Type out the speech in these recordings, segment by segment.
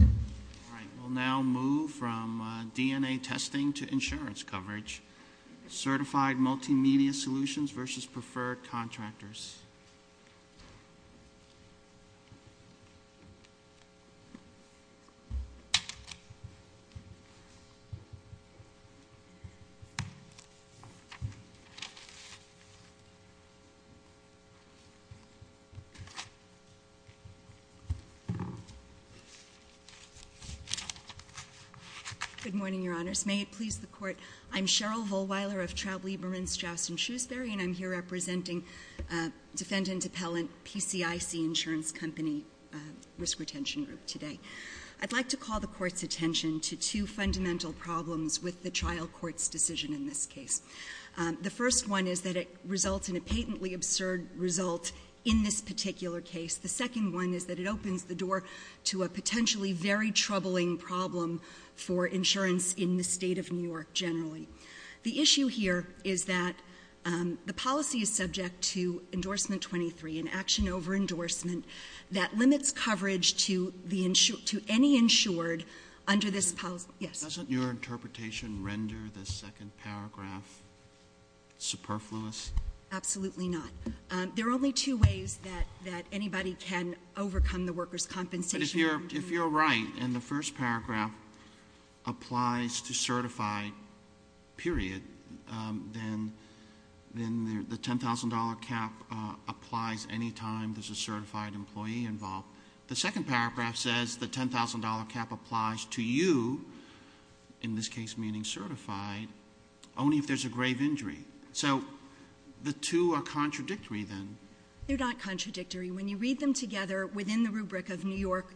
All right, we'll now move from DNA testing to insurance coverage. Certified Multi-Media Solutions versus Preferred Contractors. Good morning, Your Honors. May it please the Court. I'm Cheryl Vollweiler of Traublieb Marinstraus & Shrewsbury, and I'm here representing defendant appellant PCIC Insurance Company Risk Retention Group today. I'd like to call the Court's attention to two fundamental problems with the trial court's decision in this case. The first one is that it results in a patently absurd result in this particular case. The second one is that it opens the door to a potentially very troubling problem for insurance in the state of New York generally. The issue here is that the policy is subject to endorsement 23, an action over endorsement, that limits coverage to any insured under this policy. Doesn't your interpretation render the second paragraph superfluous? Absolutely not. There are only two ways that anybody can overcome the worker's compensation. But if you're right and the first paragraph applies to certified, period, then the $10,000 cap applies any time there's a certified employee involved. The second paragraph says the $10,000 cap applies to you, in this case meaning certified, only if there's a grave injury. So the two are contradictory then. They're not contradictory. When you read them together within the rubric of New York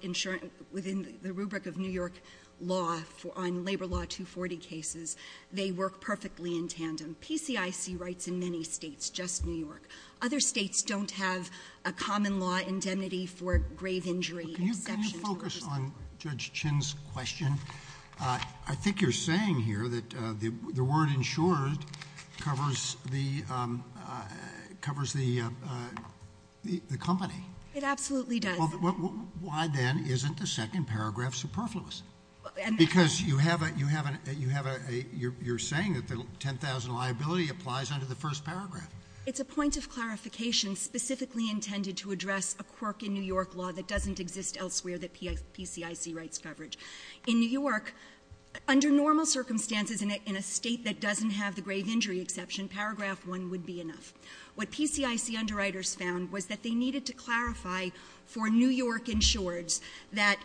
law on Labor Law 240 cases, they work perfectly in tandem. PCIC writes in many states, just New York. Other states don't have a common law indemnity for grave injury exceptions. Can you focus on Judge Chin's question? I think you're saying here that the word insured covers the company. It absolutely does. Well, why then isn't the second paragraph superfluous? Because you're saying that the $10,000 liability applies under the first paragraph. It's a point of clarification specifically intended to address a quirk in New York law that doesn't exist elsewhere that PCIC writes coverage. In New York, under normal circumstances in a state that doesn't have the grave injury exception, paragraph one would be enough. What PCIC underwriters found was that they needed to clarify for New York insureds that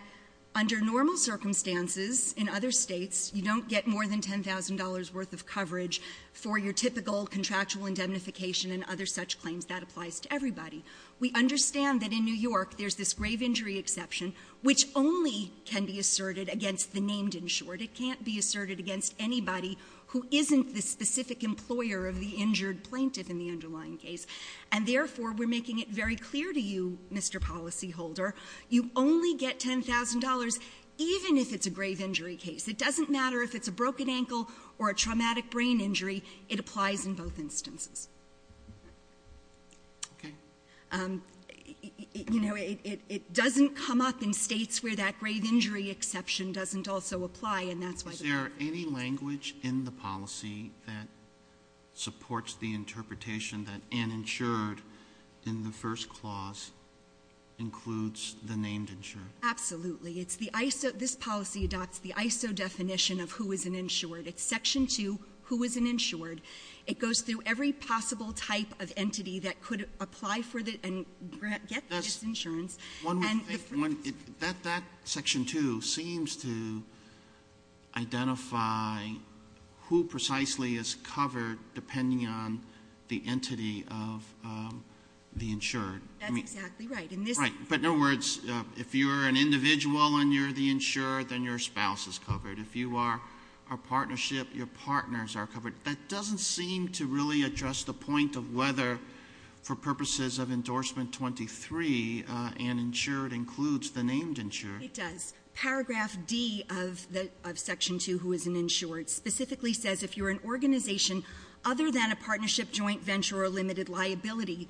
under normal circumstances in other states, you don't get more than $10,000 worth of coverage for your typical contractual indemnification and other such claims. That applies to everybody. We understand that in New York, there's this grave injury exception, which only can be asserted against the named insured. It can't be asserted against anybody who isn't the specific employer of the injured plaintiff in the underlying case. And therefore, we're making it very clear to you, Mr. Policyholder, you only get $10,000 even if it's a grave injury case. It doesn't matter if it's a broken ankle or a traumatic brain injury. It applies in both instances. Okay. You know, it doesn't come up in states where that grave injury exception doesn't also apply, and that's why they don't do it. Is there any language in the policy that supports the interpretation that uninsured in the first clause includes the named insured? Absolutely. It's the ISO. This policy adopts the ISO definition of who is an insured. It's section two, who is an insured. It goes through every possible type of entity that could apply for and get this insurance. That section two seems to identify who precisely is covered depending on the entity of the insured. That's exactly right. But in other words, if you're an individual and you're the insured, then your spouse is covered. If you are a partnership, your partners are covered. That doesn't seem to really address the point of whether, for purposes of endorsement 23, an insured includes the named insured. It does. Paragraph D of section two, who is an insured, specifically says if you're an organization other than a partnership, joint venture, or limited liability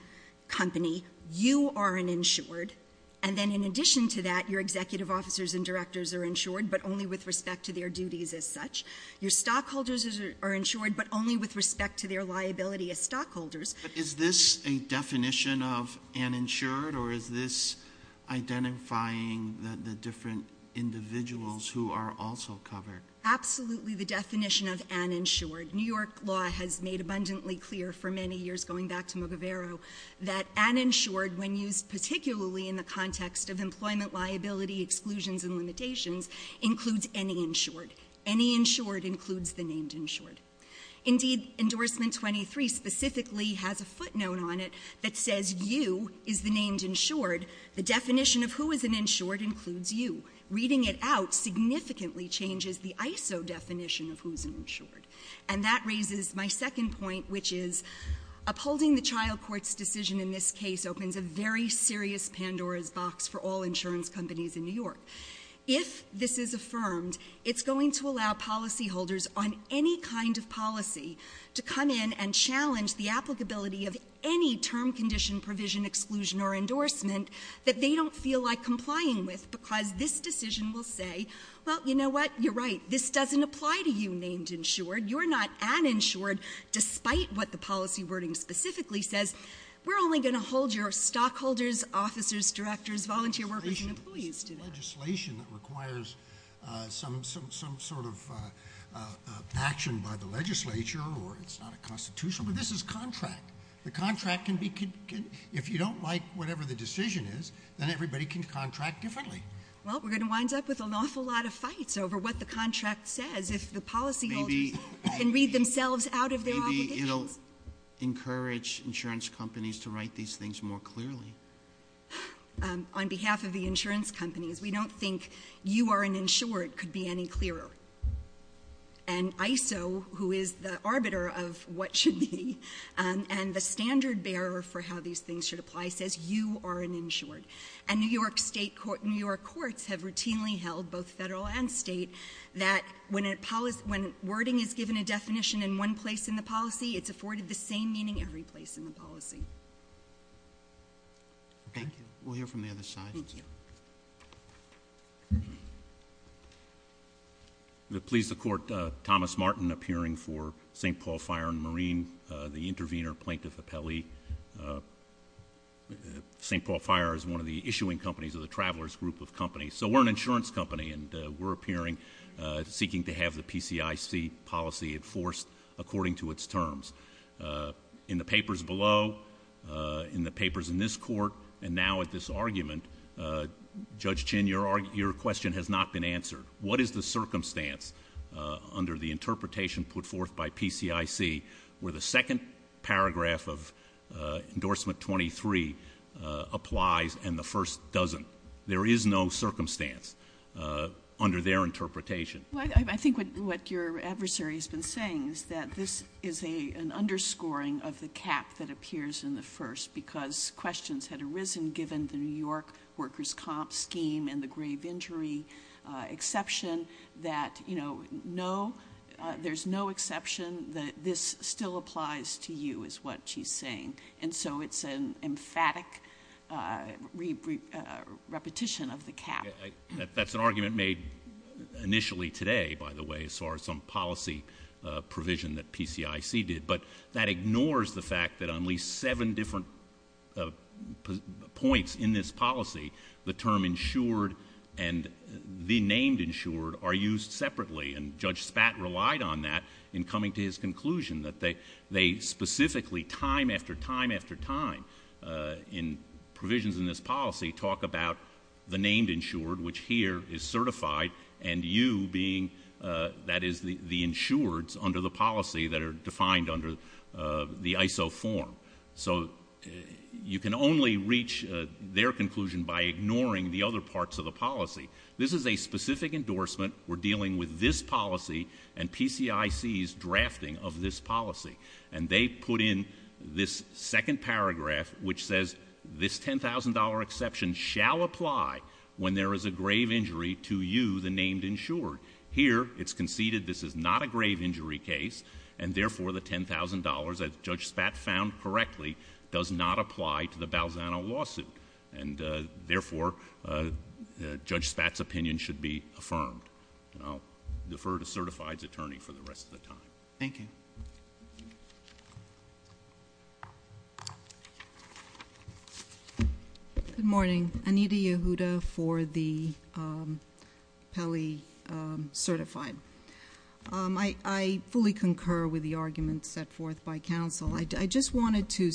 company, you are an insured. And then in addition to that, your executive officers and directors are insured, but only with respect to their duties as such. Your stockholders are insured, but only with respect to their liability as stockholders. Is this a definition of an insured, or is this identifying the different individuals who are also covered? Absolutely the definition of an insured. New York law has made abundantly clear for many years, going back to Mugavero, that an insured, when used particularly in the context of employment liability exclusions and limitations, includes any insured. Any insured includes the named insured. Indeed, endorsement 23 specifically has a footnote on it that says you is the named insured. The definition of who is an insured includes you. Reading it out significantly changes the ISO definition of who's an insured. And that raises my second point, which is upholding the child court's decision in this case opens a very serious Pandora's box for all insurance companies in New York. If this is affirmed, it's going to allow policyholders on any kind of policy to come in and challenge the applicability of any term condition, provision, exclusion, or endorsement that they don't feel like complying with, because this decision will say, well, you know what? You're right, this doesn't apply to you named insured. You're not an insured, despite what the policy wording specifically says. We're only going to hold your stockholders, officers, directors, volunteer workers, and employees to that. This isn't legislation that requires some sort of action by the legislature, or it's not a constitution, but this is contract. The contract can be, if you don't like whatever the decision is, then everybody can contract differently. Well, we're going to wind up with an awful lot of fights over what the contract says, if the policyholders can read themselves out of their obligations. Maybe it'll encourage insurance companies to write these things more clearly. On behalf of the insurance companies, we don't think you are an insured could be any clearer. And ISO, who is the arbiter of what should be, and the standard bearer for how these things should apply, says you are an insured. And New York courts have routinely held, both federal and state, that when wording is given a definition in one place in the policy, it's afforded the same meaning every place in the policy. Thank you. We'll hear from the other side. Thank you. Please support Thomas Martin appearing for St. Paul Fire and Marine, the intervener plaintiff appellee. St. Paul Fire is one of the issuing companies of the Travelers Group of Companies, so we're an insurance company, and we're appearing seeking to have the PCIC policy enforced according to its terms. In the papers below, in the papers in this court, and now at this argument, Judge Chin, your question has not been answered. What is the circumstance under the interpretation put forth by PCIC where the second paragraph of Endorsement 23 applies and the first doesn't? There is no circumstance under their interpretation. I think what your adversary has been saying is that this is an underscoring of the cap that appears in the first, because questions had arisen, given the New York workers' comp scheme and the grave injury exception, that there's no exception, that this still applies to you, is what she's saying. And so it's an emphatic repetition of the cap. That's an argument made initially today, by the way, as far as some policy provision that PCIC did, but that ignores the fact that on at least seven different points in this policy, the term insured and the name insured are used separately, and Judge Spat relied on that in coming to his conclusion, that they specifically, time after time after time, in provisions in this policy, talk about the named insured, which here is certified, and you being, that is, the insureds under the policy that are defined under the ISO form. So you can only reach their conclusion by ignoring the other parts of the policy. This is a specific endorsement. We're dealing with this policy and PCIC's drafting of this policy. And they put in this second paragraph, which says, this $10,000 exception shall apply when there is a grave injury to you, the named insured. Here, it's conceded this is not a grave injury case, and therefore the $10,000, as Judge Spat found correctly, does not apply to the Balzano lawsuit. And therefore, Judge Spat's opinion should be affirmed. And I'll defer to Certified's attorney for the rest of the time. Thank you. Good morning. Anita Yehuda for the Pele Certified. I fully concur with the arguments set forth by counsel. I just wanted to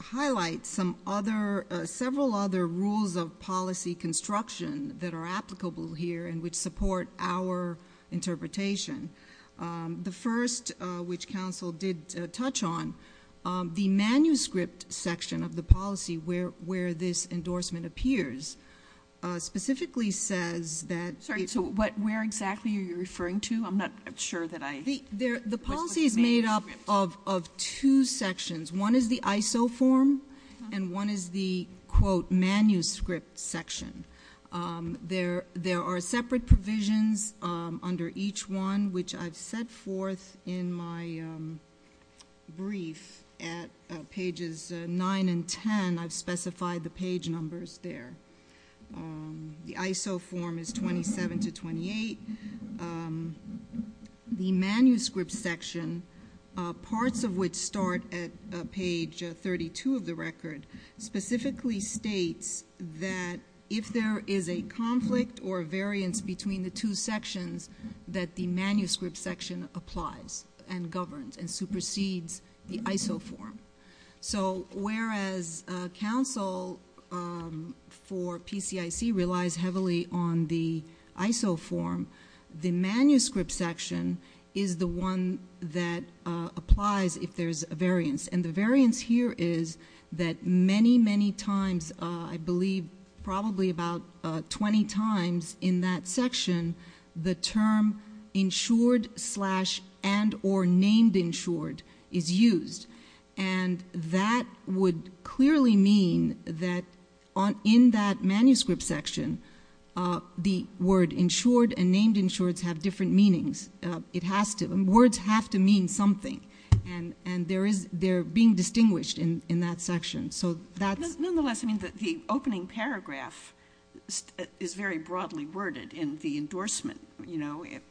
highlight several other rules of policy construction that are applicable here and which support our interpretation. The first, which counsel did touch on, the manuscript section of the policy, where this endorsement appears, specifically says that- Sorry, so where exactly are you referring to? I'm not sure that I- The policy is made up of two sections. One is the ISO form, and one is the, quote, manuscript section. There are separate provisions under each one, which I've set forth in my brief at pages 9 and 10. I've specified the page numbers there. The ISO form is 27 to 28. The manuscript section, parts of which start at page 32 of the record, specifically states that if there is a conflict or variance between the two sections, that the manuscript section applies and governs and supersedes the ISO form. So whereas counsel for PCIC relies heavily on the ISO form, the manuscript section is the one that applies if there's a variance. And the variance here is that many, many times, I believe probably about 20 times in that section, the term insured slash and or named insured is used. And that would clearly mean that in that manuscript section, the word insured and named insured have different meanings. Words have to mean something, and they're being distinguished in that section. Nonetheless, the opening paragraph is very broadly worded in the endorsement.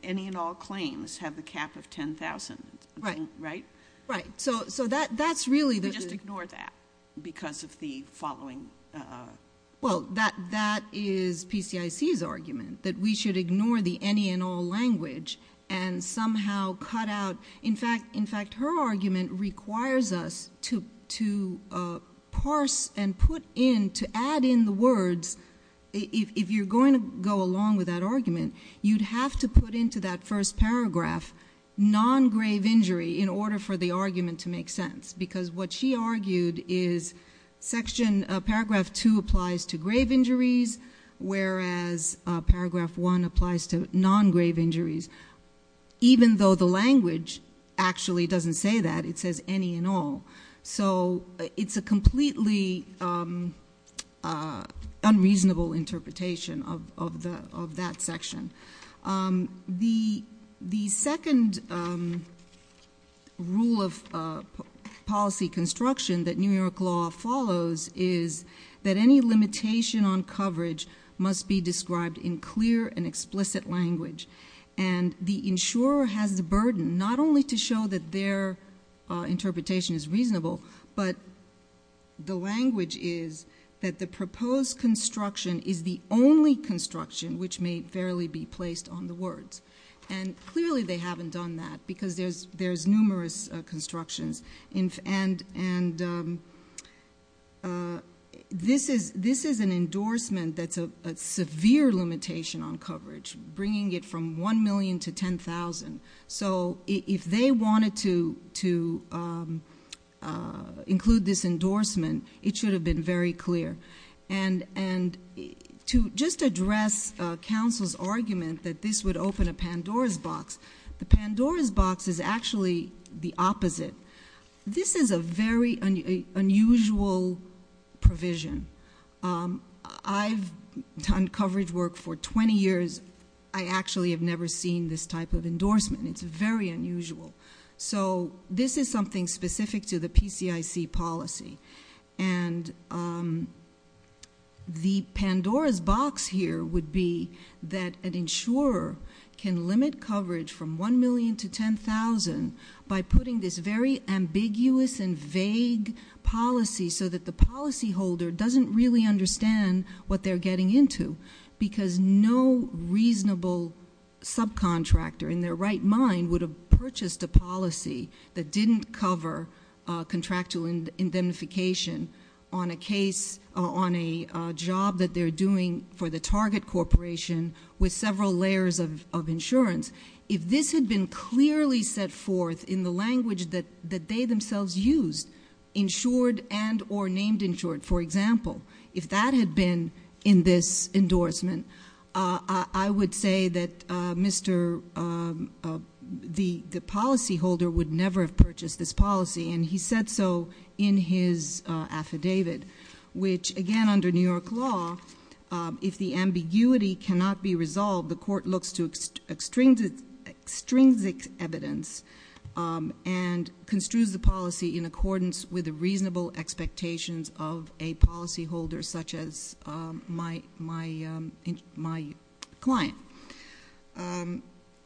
Any and all claims have the cap of 10,000, right? Right. We just ignore that because of the following. Well, that is PCIC's argument, that we should ignore the any and all language and somehow cut out. In fact, her argument requires us to parse and put in, to add in the words. If you're going to go along with that argument, you'd have to put into that first paragraph non-grave injury in order for the argument to make sense. Because what she argued is paragraph 2 applies to grave injuries, whereas paragraph 1 applies to non-grave injuries. Even though the language actually doesn't say that, it says any and all. So it's a completely unreasonable interpretation of that section. The second rule of policy construction that New York law follows is that any limitation on coverage must be described in clear and explicit language. And the insurer has the burden not only to show that their interpretation is reasonable, but the language is that the proposed construction is the only construction which may fairly be placed on the words. And clearly they haven't done that because there's numerous constructions. And this is an endorsement that's a severe limitation on coverage, bringing it from $1 million to $10,000. So if they wanted to include this endorsement, it should have been very clear. And to just address counsel's argument that this would open a Pandora's box, the Pandora's box is actually the opposite. This is a very unusual provision. I've done coverage work for 20 years. I actually have never seen this type of endorsement. It's very unusual. So this is something specific to the PCIC policy. And the Pandora's box here would be that an insurer can limit coverage from $1 million to $10,000 by putting this very ambiguous and vague policy so that the policyholder doesn't really understand what they're getting into because no reasonable subcontractor in their right mind would have purchased a policy that didn't cover contractual indemnification on a job that they're doing for the target corporation with several layers of insurance. If this had been clearly set forth in the language that they themselves used, insured and or named insured, for example, if that had been in this endorsement, I would say that the policyholder would never have purchased this policy. And he said so in his affidavit, which, again, under New York law, if the ambiguity cannot be resolved, the court looks to extrinsic evidence and construes the policy in accordance with the reasonable expectations of a policyholder such as my client.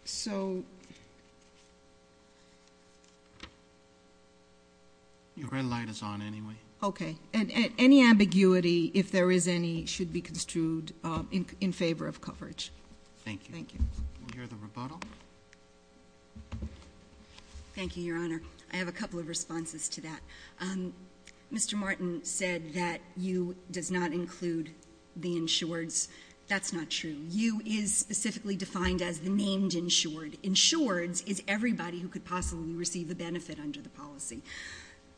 So... Your red light is on anyway. Okay. And any ambiguity, if there is any, should be construed in favor of coverage. Thank you. Thank you. We'll hear the rebuttal. Thank you, Your Honor. I have a couple of responses to that. Mr. Martin said that you does not include the insureds. That's not true. You is specifically defined as the named insured. Insureds is everybody who could possibly receive the benefit under the policy.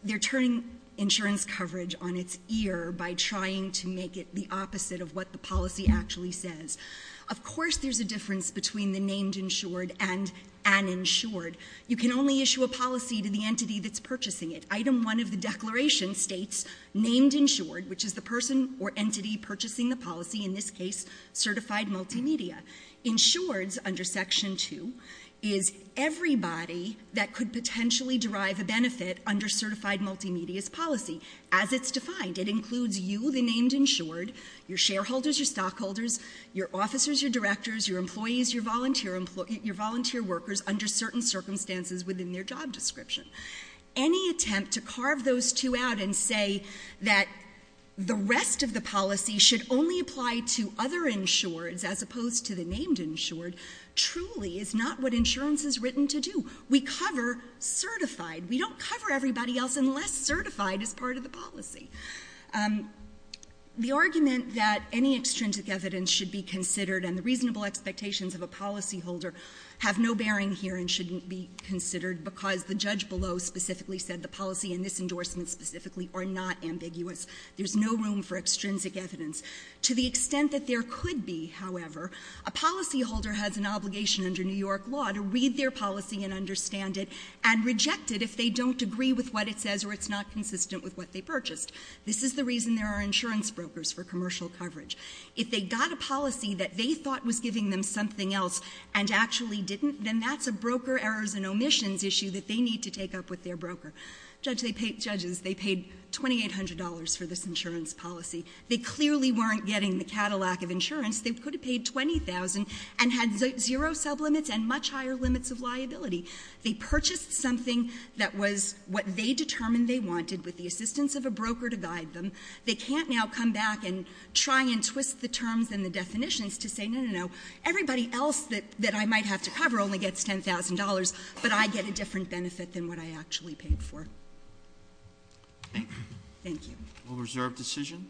They're turning insurance coverage on its ear by trying to make it the opposite of what the policy actually says. Of course there's a difference between the named insured and an insured. You can only issue a policy to the entity that's purchasing it. Item 1 of the declaration states named insured, which is the person or entity purchasing the policy, in this case certified multimedia. Insureds, under Section 2, is everybody that could potentially derive a benefit under certified multimedia's policy, as it's defined. It includes you, the named insured, your shareholders, your stockholders, your officers, your directors, your employees, your volunteer workers under certain circumstances within their job description. Any attempt to carve those two out and say that the rest of the policy should only apply to other insureds, as opposed to the named insured, truly is not what insurance is written to do. We cover certified. We don't cover everybody else unless certified is part of the policy. The argument that any extrinsic evidence should be considered and the reasonable expectations of a policyholder have no bearing here and shouldn't be considered because the judge below specifically said the policy and this endorsement specifically are not ambiguous. There's no room for extrinsic evidence. To the extent that there could be, however, a policyholder has an obligation under New York law to read their policy and understand it and reject it if they don't agree with what it says or it's not consistent with what they purchased. This is the reason there are insurance brokers for commercial coverage. If they got a policy that they thought was giving them something else and actually didn't, then that's a broker errors and omissions issue that they need to take up with their broker. Judges, they paid $2,800 for this insurance policy. They clearly weren't getting the Cadillac of insurance. They could have paid $20,000 and had zero sublimits and much higher limits of liability. They purchased something that was what they determined they wanted with the assistance of a broker to guide them. They can't now come back and try and twist the terms and the definitions to say, no, no, no. Everybody else that I might have to cover only gets $10,000, but I get a different benefit than what I actually paid for. Thank you. We'll reserve decision.